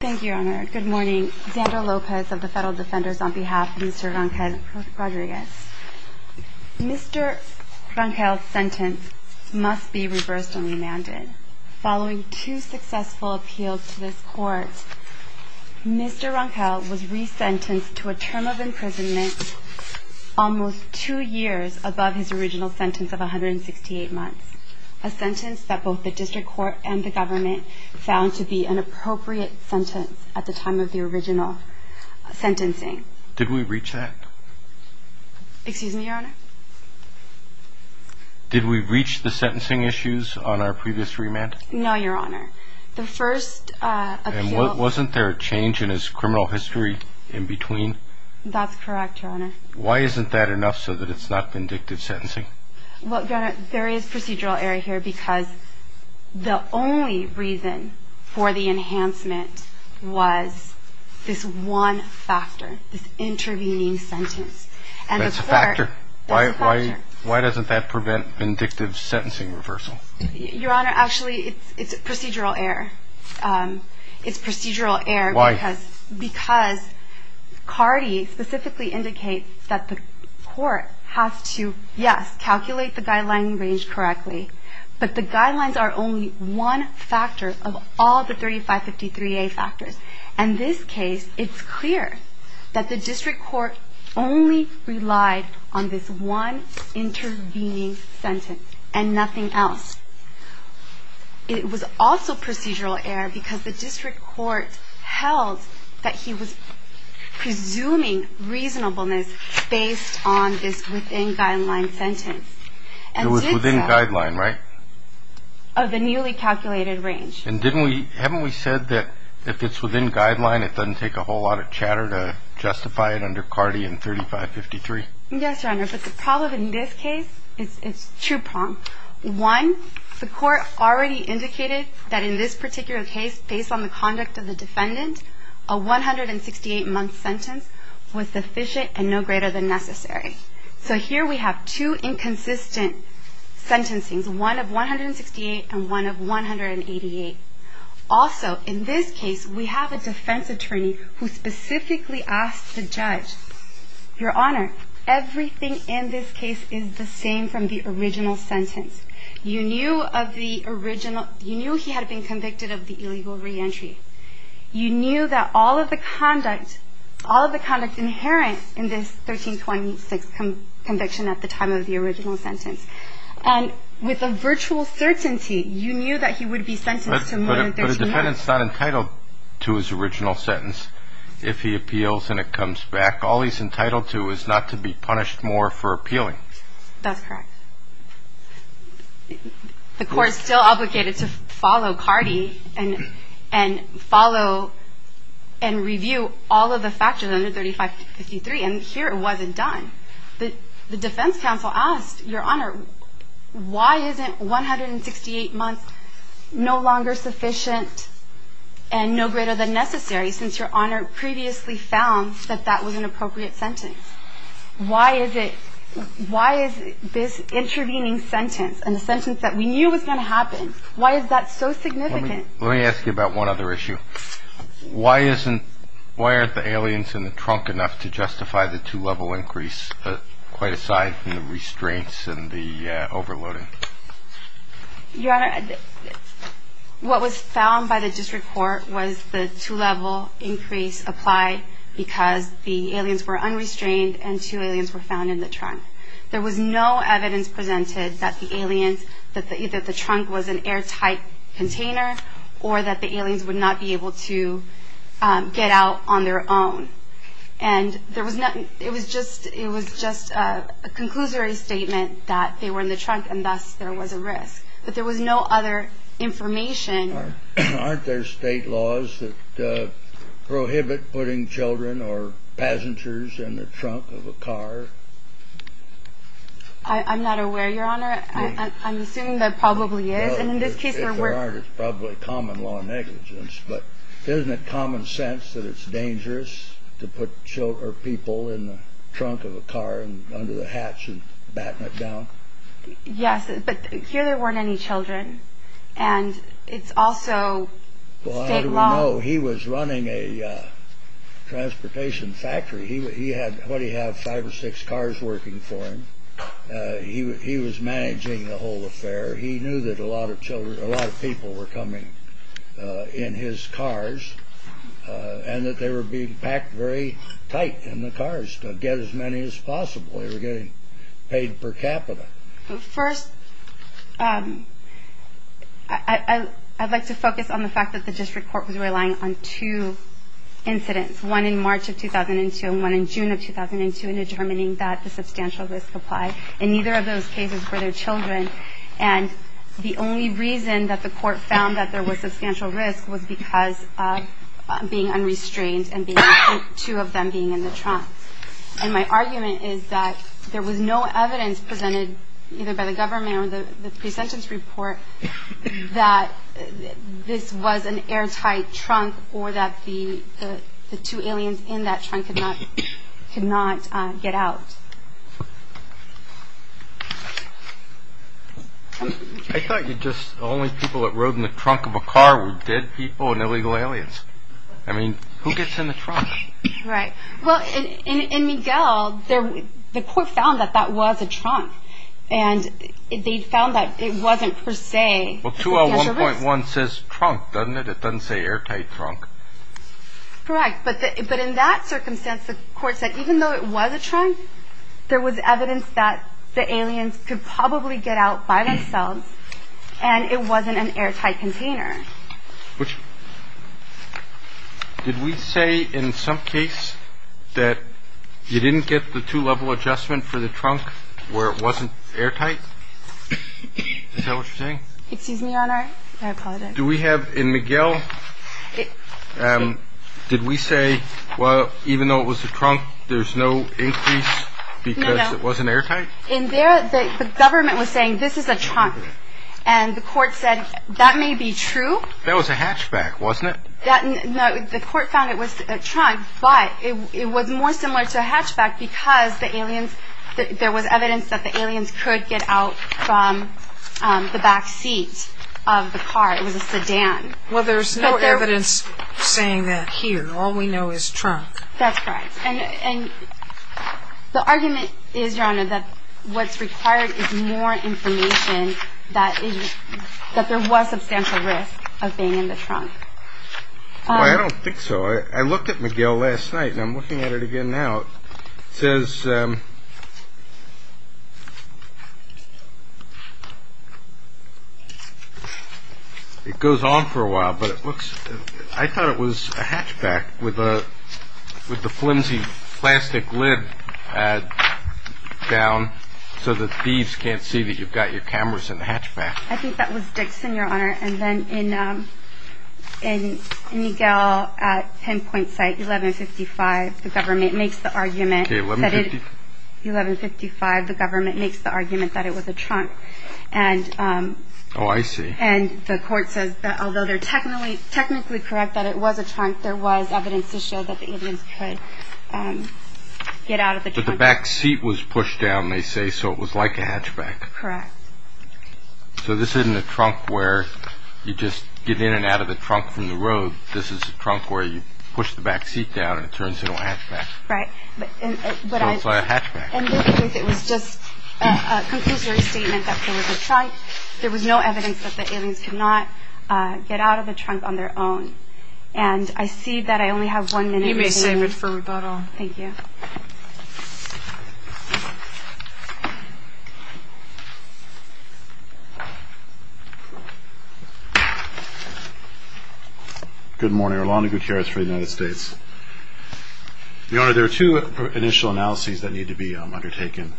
Thank you, Your Honor. Good morning. Xander Lopez of the Federal Defenders on behalf of Mr. Rangel-Rodriguez. Mr. Rangel's sentence must be reversed and remanded. Following two successful appeals to this Court, Mr. Rangel was resentenced to a term of imprisonment almost two years above his original sentence of 168 months, a sentence that both the District Court and the government found to be an appropriate sentence at the time of the original sentencing. Did we reach that? Excuse me, Your Honor? Did we reach the sentencing issues on our previous remand? No, Your Honor. The first appeal... And wasn't there a change in his criminal history in between? That's correct, Your Honor. Why isn't that enough so that it's not vindictive sentencing? Well, Your Honor, there is procedural error here because the only reason for the enhancement was this one factor, this intervening sentence. That's a factor. Why doesn't that prevent vindictive sentencing reversal? Your Honor, actually, it's procedural error. Why? Yes, calculate the guideline range correctly, but the guidelines are only one factor of all the 3553A factors. In this case, it's clear that the District Court only relied on this one intervening sentence and nothing else. It was also procedural error because the District Court held that he was presuming reasonableness based on this within guideline sentence. It was within guideline, right? Of the newly calculated range. And haven't we said that if it's within guideline, it doesn't take a whole lot of chatter to justify it under CARTI and 3553? Yes, Your Honor, but the problem in this case is two-pronged. One, the court already indicated that in this particular case, based on the conduct of the defendant, a 168-month sentence was sufficient and no greater than necessary. So here we have two inconsistent sentencing, one of 168 and one of 188. Also, in this case, we have a defense attorney who specifically asked the judge, Your Honor, everything in this case is the same from the original sentence. You knew of the original, you knew he had been convicted of the illegal reentry. You knew that all of the conduct, all of the conduct inherent in this 1326 conviction at the time of the original sentence. And with a virtual certainty, you knew that he would be sentenced to more than 13 months. But a defendant's not entitled to his original sentence if he appeals and it comes back. All he's entitled to is not to be punished more for appealing. That's correct. The court's still obligated to follow CARTI and follow and review all of the factors under 3553, and here it wasn't done. The defense counsel asked, Your Honor, why isn't 168 months no longer sufficient and no greater than necessary since Your Honor previously found that that was an appropriate sentence? Why is it, why is this intervening sentence and the sentence that we knew was going to happen, why is that so significant? Let me ask you about one other issue. Why isn't, why aren't the aliens in the trunk enough to justify the two-level increase, quite aside from the restraints and the overloading? Your Honor, what was found by the district court was the two-level increase applied because the aliens were unrestrained and two aliens were found in the trunk. There was no evidence presented that the aliens, that either the trunk was an airtight container or that the aliens would not be able to get out on their own. And there was nothing, it was just a conclusory statement that they were in the trunk and thus there was a risk. But there was no other information. Aren't there state laws that prohibit putting children or passengers in the trunk of a car? I'm not aware, Your Honor. I'm assuming there probably is. If there aren't, it's probably common law negligence. But isn't it common sense that it's dangerous to put people in the trunk of a car under the hatch and batten it down? Yes, but here there weren't any children. And it's also state law. Well, how do we know? He was running a transportation factory. He had, what, he had five or six cars working for him. He was managing the whole affair. He knew that a lot of children, a lot of people were coming in his cars and that they were being packed very tight in the cars to get as many as possible. They were getting paid per capita. First, I'd like to focus on the fact that the district court was relying on two incidents, one in March of 2002 and one in June of 2002 in determining that the substantial risk applied. And neither of those cases were their children. And the only reason that the court found that there was substantial risk was because of being unrestrained and two of them being in the trunk. And my argument is that there was no evidence presented either by the government or the pre-sentence report that this was an airtight trunk or that the two aliens in that trunk could not get out. I thought you just, the only people that rode in the trunk of a car were dead people and illegal aliens. I mean, who gets in the trunk? Right. Well, in Miguel, the court found that that was a trunk. And they found that it wasn't per se. Well, 201.1 says trunk, doesn't it? It doesn't say airtight trunk. Correct. But in that circumstance, the court said even though it was a trunk, there was evidence that the aliens could probably get out by themselves and it wasn't an airtight container. Which, did we say in some case that you didn't get the two-level adjustment for the trunk where it wasn't airtight? Is that what you're saying? Excuse me, Your Honor. Do we have in Miguel, did we say, well, even though it was a trunk, there's no increase because it wasn't airtight? In there, the government was saying this is a trunk. And the court said that may be true. That was a hatchback, wasn't it? The court found it was a trunk, but it was more similar to a hatchback because the aliens, there was evidence that the aliens could get out from the back seat of the car. It was a sedan. Well, there's no evidence saying that here. All we know is trunk. That's correct. And the argument is, Your Honor, that what's required is more information that there was substantial risk of being in the trunk. I don't think so. I looked at Miguel last night and I'm looking at it again now. It goes on for a while, but I thought it was a hatchback with the flimsy plastic lid down so that thieves can't see that you've got your cameras in the hatchback. I think that was Dixon, Your Honor. And then in Miguel at pinpoint site 1155, the government makes the argument that it was a trunk. Oh, I see. And the court says that although they're technically correct that it was a trunk, there was evidence to show that the aliens could get out of the trunk. But the back seat was pushed down, they say, so it was like a hatchback. Correct. So this isn't a trunk where you just get in and out of the trunk from the road. This is a trunk where you push the back seat down and it turns into a hatchback. Right. It was just a conclusive statement that there was a trunk. There was no evidence that the aliens could not get out of the trunk on their own. And I see that I only have one minute. You may save it for rebuttal. Thank you. Good morning. Erlano Gutierrez for the United States. Your Honor, there are two initial analyses that need to be undertaken.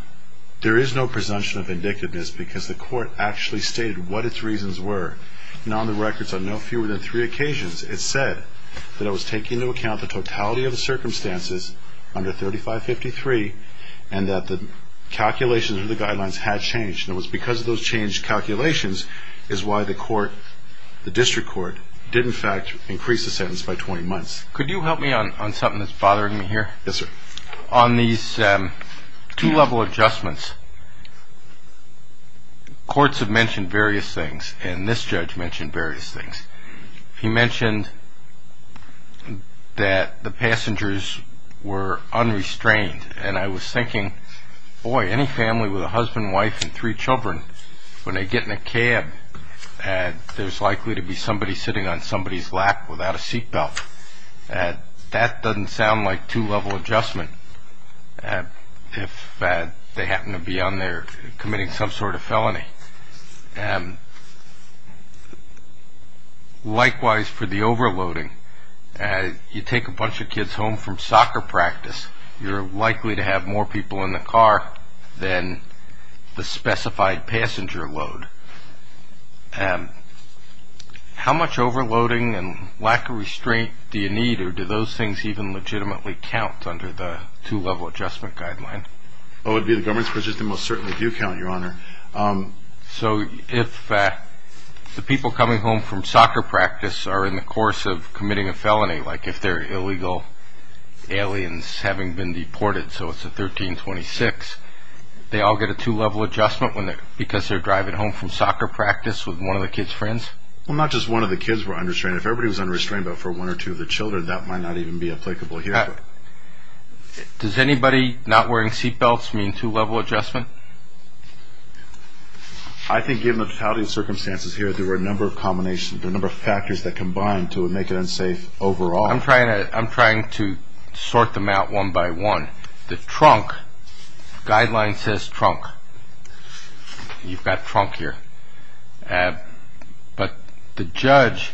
There is no presumption of vindictiveness because the court actually stated what its reasons were. And on the records, on no fewer than three occasions, it said that it was taking into account the totality of the circumstances under 3553 and that the calculations under the guidelines had changed. And it was because of those changed calculations is why the court, the district court, did, in fact, increase the sentence by 20 months. Could you help me on something that's bothering me here? Yes, sir. On these two-level adjustments, courts have mentioned various things, and this judge mentioned various things. He mentioned that the passengers were unrestrained. And I was thinking, boy, any family with a husband, wife, and three children, when they get in a cab, there's likely to be somebody sitting on somebody's lap without a seat belt. That doesn't sound like two-level adjustment if they happen to be on there committing some sort of felony. Likewise, for the overloading, you take a bunch of kids home from soccer practice, you're likely to have more people in the car than the specified passenger load. How much overloading and lack of restraint do you need, or do those things even legitimately count under the two-level adjustment guideline? Oh, it would be the government's purchase. They most certainly do count, Your Honor. So if the people coming home from soccer practice are in the course of committing a felony, like if they're illegal aliens having been deported, so it's a 1326, they all get a two-level adjustment because they're driving home from soccer practice with one of the kids' friends? Well, not just one of the kids were unrestrained. If everybody was unrestrained but for one or two of the children, that might not even be applicable here. Does anybody not wearing seat belts mean two-level adjustment? I think given the totality of circumstances here, there were a number of combinations, a number of factors that combined to make it unsafe overall. I'm trying to sort them out one by one. The trunk guideline says trunk. You've got trunk here. But the judge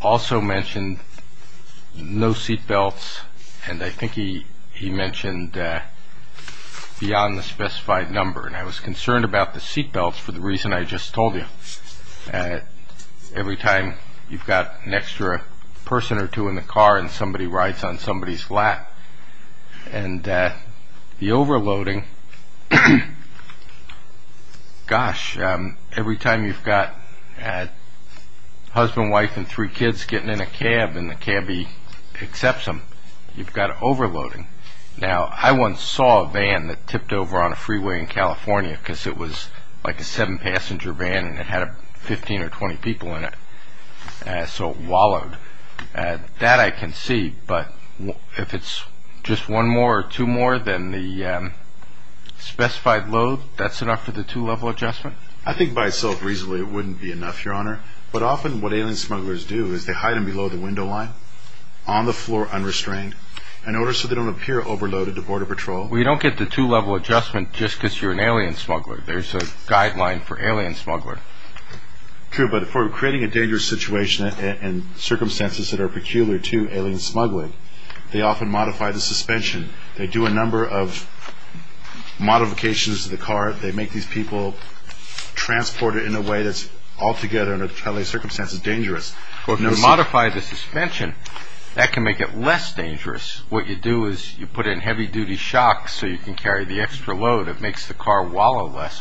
also mentioned no seat belts, and I think he mentioned beyond the specified number, and I was concerned about the seat belts for the reason I just told you. Every time you've got an extra person or two in the car and somebody rides on somebody's lap, and the overloading, gosh, every time you've got a husband, wife, and three kids getting in a cab and the cabbie accepts them, you've got overloading. Now, I once saw a van that tipped over on a freeway in California because it was like a seven-passenger van and it had 15 or 20 people in it, so it wallowed. That I can see, but if it's just one more or two more than the specified load, that's enough for the two-level adjustment? I think by itself reasonably it wouldn't be enough, Your Honor. But often what alien smugglers do is they hide them below the window line, on the floor unrestrained, in order so they don't appear overloaded to Border Patrol. Well, you don't get the two-level adjustment just because you're an alien smuggler. There's a guideline for alien smuggler. True, but for creating a dangerous situation and circumstances that are peculiar to alien smuggling, they often modify the suspension. They do a number of modifications to the car. They make these people transport it in a way that's altogether, under the trial and error circumstances, dangerous. Well, if you modify the suspension, that can make it less dangerous. What you do is you put in heavy-duty shocks so you can carry the extra load. It makes the car wallow less.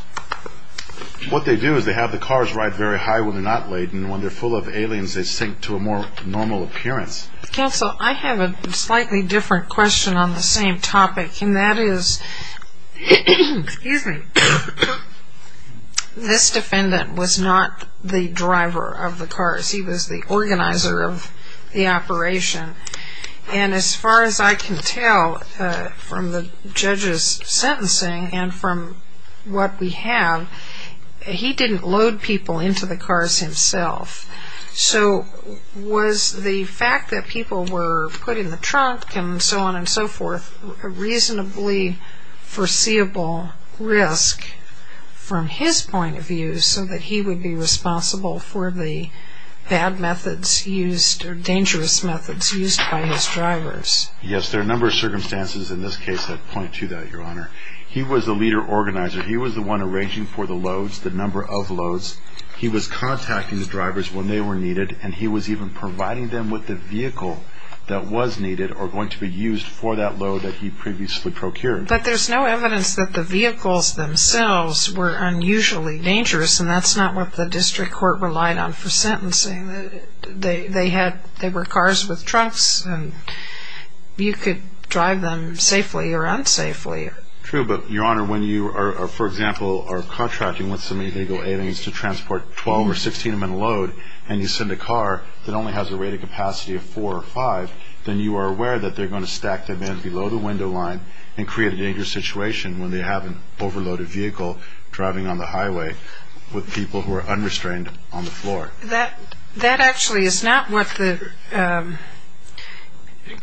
What they do is they have the cars ride very high when they're not laden. When they're full of aliens, they sink to a more normal appearance. Counsel, I have a slightly different question on the same topic, and that is this defendant was not the driver of the cars. He was the organizer of the operation. And as far as I can tell from the judge's sentencing and from what we have, he didn't load people into the cars himself. So was the fact that people were put in the trunk and so on and so forth a reasonably foreseeable risk from his point of view so that he would be responsible for the bad methods used or dangerous methods used by his drivers? Yes. There are a number of circumstances in this case that point to that, Your Honor. He was the leader organizer. He was the one arranging for the loads, the number of loads. He was contacting the drivers when they were needed, and he was even providing them with the vehicle that was needed or going to be used for that load that he previously procured. But there's no evidence that the vehicles themselves were unusually dangerous and that's not what the district court relied on for sentencing. They were cars with trunks, and you could drive them safely or unsafely. True, but, Your Honor, when you, for example, are contracting with some illegal aliens to transport 12 or 16 of them in a load and you send a car that only has a rated capacity of four or five, then you are aware that they're going to stack them in below the window line and create a dangerous situation when they have an overloaded vehicle driving on the highway with people who are unrestrained on the floor. That actually is not what the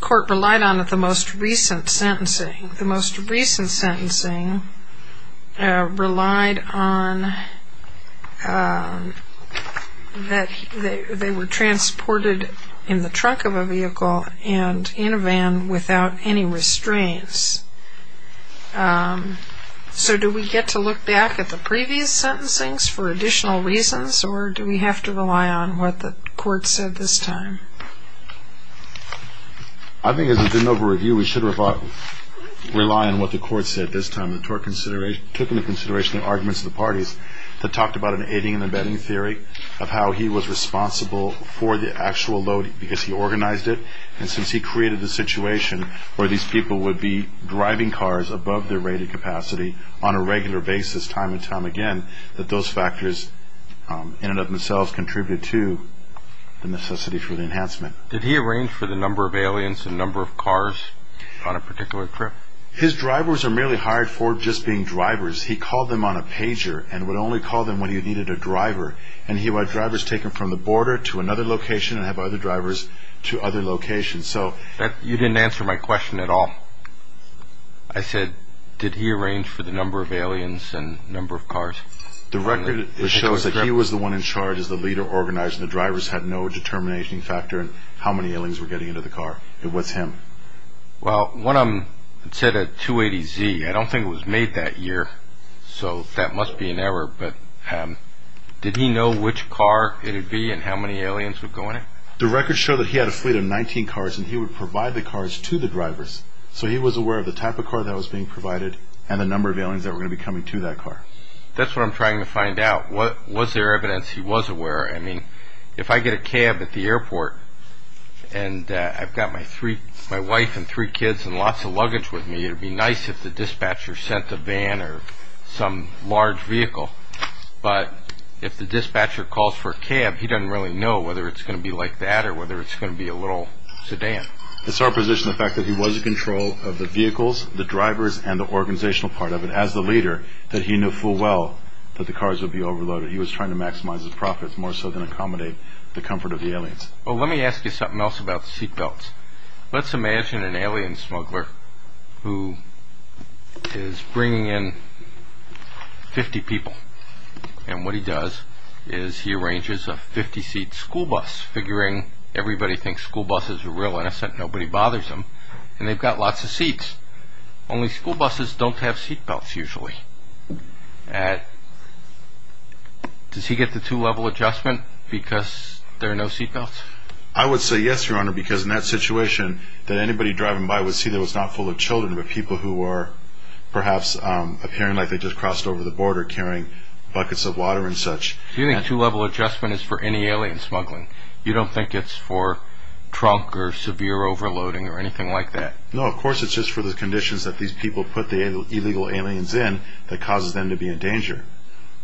court relied on at the most recent sentencing. The most recent sentencing relied on that they were transported in the trunk of a vehicle and in a van without any restraints. So do we get to look back at the previous sentencings for additional reasons or do we have to rely on what the court said this time? I think as a de novo review, we should rely on what the court said this time. The court took into consideration the arguments of the parties that talked about an aiding and abetting theory of how he was responsible for the actual load because he organized it and since he created the situation where these people would be driving cars above their rated capacity on a regular basis time and time again, that those factors in and of themselves contributed to the necessity for the enhancement. Did he arrange for the number of aliens and number of cars on a particular trip? His drivers are merely hired for just being drivers. He called them on a pager and would only call them when he needed a driver and he would have drivers taken from the border to another location and have other drivers to other locations. You didn't answer my question at all. I said, did he arrange for the number of aliens and number of cars? The record shows that he was the one in charge as the leader organized and the drivers had no determination factor in how many aliens were getting into the car. It was him. Well, one of them said a 280Z. I don't think it was made that year so that must be an error but did he know which car it would be and how many aliens would go in it? The record showed that he had a fleet of 19 cars and he would provide the cars to the drivers so he was aware of the type of car that was being provided and the number of aliens that were going to be coming to that car. That's what I'm trying to find out. Was there evidence he was aware? I mean, if I get a cab at the airport and I've got my wife and three kids and lots of luggage with me, it would be nice if the dispatcher sent a van or some large vehicle but if the dispatcher calls for a cab, he doesn't really know whether it's going to be like that or whether it's going to be a little sedan. It's our position the fact that he was in control of the vehicles, the drivers and the organizational part of it as the leader that he knew full well that the cars would be overloaded. He was trying to maximize his profits more so than accommodate the comfort of the aliens. Well, let me ask you something else about the seatbelts. Let's imagine an alien smuggler who is bringing in 50 people and what he does is he arranges a 50-seat school bus, figuring everybody thinks school buses are real innocent, nobody bothers them, and they've got lots of seats. Only school buses don't have seatbelts usually. Does he get the two-level adjustment because there are no seatbelts? I would say yes, Your Honor, because in that situation that anybody driving by would see that it was not full of children but people who were perhaps appearing like they just crossed over the border carrying buckets of water and such. Do you think two-level adjustment is for any alien smuggling? You don't think it's for trunk or severe overloading or anything like that? No, of course it's just for the conditions that these people put the illegal aliens in that causes them to be in danger.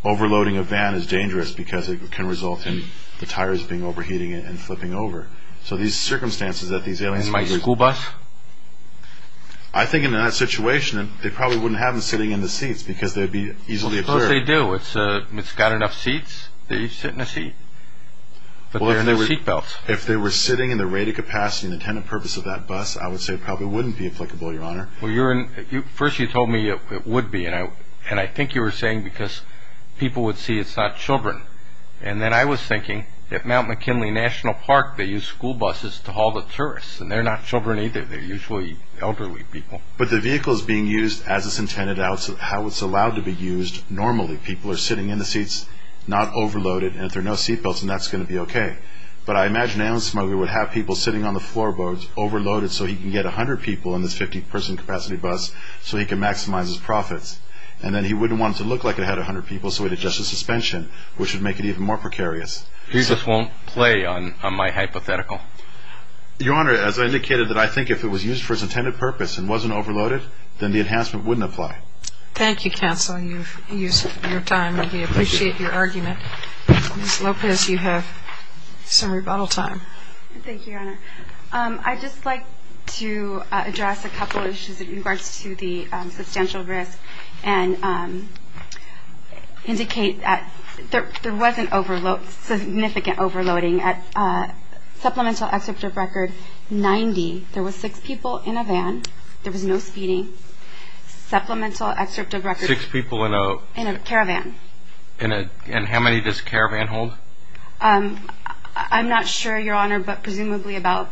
Overloading a van is dangerous because it can result in the tires being overheating and flipping over. So these circumstances that these aliens... And my school bus? I think in that situation they probably wouldn't have them sitting in the seats because they'd be easily obscured. Of course they do. It's got enough seats. They sit in a seat. But there are no seatbelts. If they were sitting in the rated capacity and intended purpose of that bus, I would say it probably wouldn't be applicable, Your Honor. First you told me it would be, and I think you were saying because people would see it's not children. And then I was thinking, at Mount McKinley National Park, they use school buses to haul the tourists, and they're not children either. They're usually elderly people. But the vehicle's being used as it's intended, how it's allowed to be used normally. People are sitting in the seats, not overloaded, and if there are no seatbelts, then that's going to be okay. But I imagine an alien smuggler would have people sitting on the floorboards, overloaded, so he can get 100 people in this 50-person capacity bus so he can maximize his profits. And then he wouldn't want it to look like it had 100 people, which would make it even more precarious. He just won't play on my hypothetical. Your Honor, as I indicated, that I think if it was used for its intended purpose and wasn't overloaded, then the enhancement wouldn't apply. Thank you, counsel. You've used your time, and we appreciate your argument. Ms. Lopez, you have some rebuttal time. Thank you, Your Honor. I'd just like to address a couple of issues in regards to the substantial risk. And indicate that there wasn't significant overloading. At supplemental excerpt of record 90, there were six people in a van. There was no speeding. Supplemental excerpt of record in a caravan. And how many does a caravan hold? I'm not sure, Your Honor, but presumably about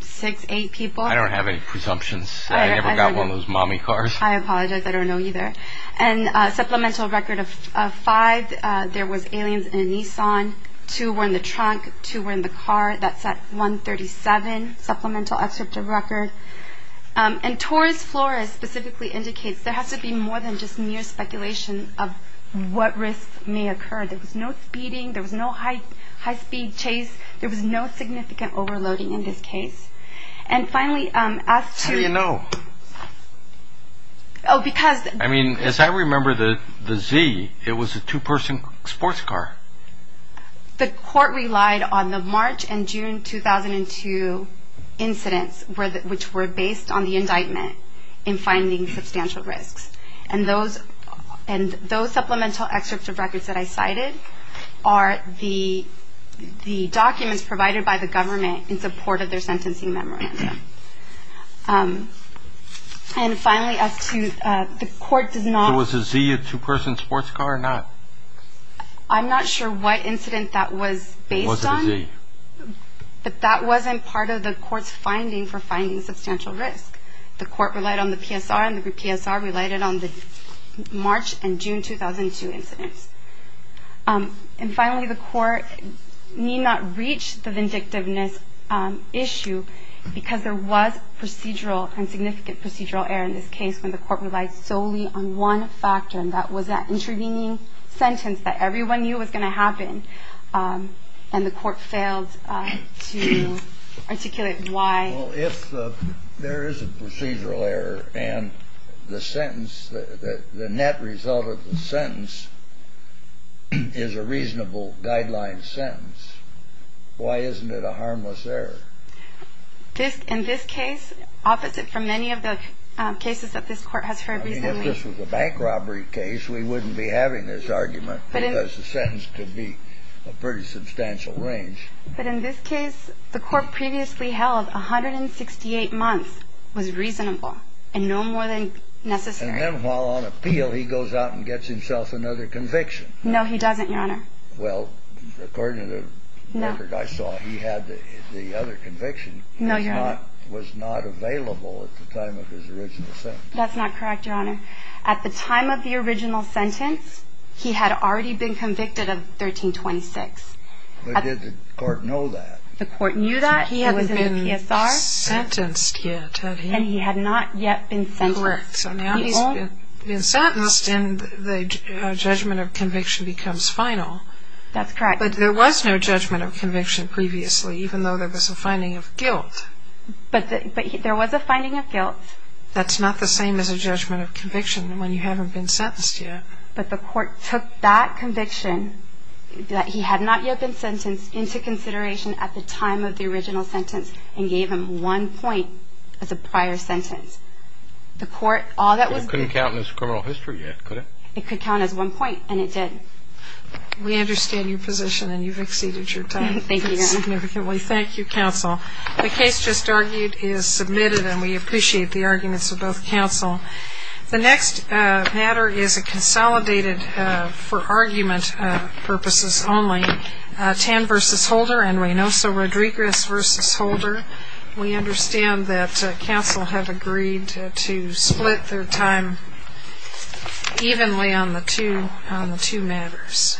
six, eight people. I don't have any presumptions. I never got one of those mommy cars. I apologize. I don't know either. And supplemental record of five, there was aliens in a Nissan. Two were in the trunk. Two were in the car. That's at 137. Supplemental excerpt of record. And Taurus flora specifically indicates there has to be more than just mere speculation of what risks may occur. There was no speeding. There was no high-speed chase. There was no significant overloading in this case. And finally, as to. How do you know? Oh, because. I mean, as I remember the Z, it was a two-person sports car. The court relied on the March and June 2002 incidents, which were based on the indictment in finding substantial risks. And those supplemental excerpts of records that I cited are the documents provided by the government in support of their sentencing memorandum. And finally, as to the court does not. So was the Z a two-person sports car or not? I'm not sure what incident that was based on. Was it the Z? But that wasn't part of the court's finding for finding substantial risk. The court relied on the PSR and the PSR related on the March and June 2002 incidents. And finally, the court need not reach the vindictiveness issue because there was procedural and significant procedural error in this case when the court relies solely on one factor. And that was that intervening sentence that everyone knew was going to happen. And the court failed to articulate why. Well, if there is a procedural error and the sentence, the net result of the sentence is a reasonable guideline sentence, why isn't it a harmless error? In this case, opposite from many of the cases that this court has heard recently. I mean, if this was a bank robbery case, we wouldn't be having this argument because the sentence could be a pretty substantial range. But in this case, the court previously held 168 months was reasonable and no more than necessary. And then while on appeal, he goes out and gets himself another conviction. No, he doesn't, Your Honor. Well, according to the record I saw, he had the other conviction. No, Your Honor. Was not available at the time of his original sentence. That's not correct, Your Honor. At the time of the original sentence, he had already been convicted of 1326. But did the court know that? The court knew that. He hadn't been sentenced yet, had he? And he had not yet been sentenced. Correct. So now he's been sentenced and the judgment of conviction becomes final. That's correct. But there was no judgment of conviction previously, even though there was a finding of guilt. But there was a finding of guilt. That's not the same as a judgment of conviction when you haven't been sentenced yet. But the court took that conviction, that he had not yet been sentenced, into consideration at the time of the original sentence and gave him one point as a prior sentence. The court, all that was given. It couldn't count as criminal history yet, could it? It could count as one point, and it did. We understand your position and you've exceeded your time. Thank you, Your Honor. Significantly. Thank you, counsel. The case just argued is submitted and we appreciate the arguments of both counsel. The next matter is a consolidated, for argument purposes only, Tan v. Holder and Reynoso Rodriguez v. Holder. We understand that counsel have agreed to split their time evenly on the two matters.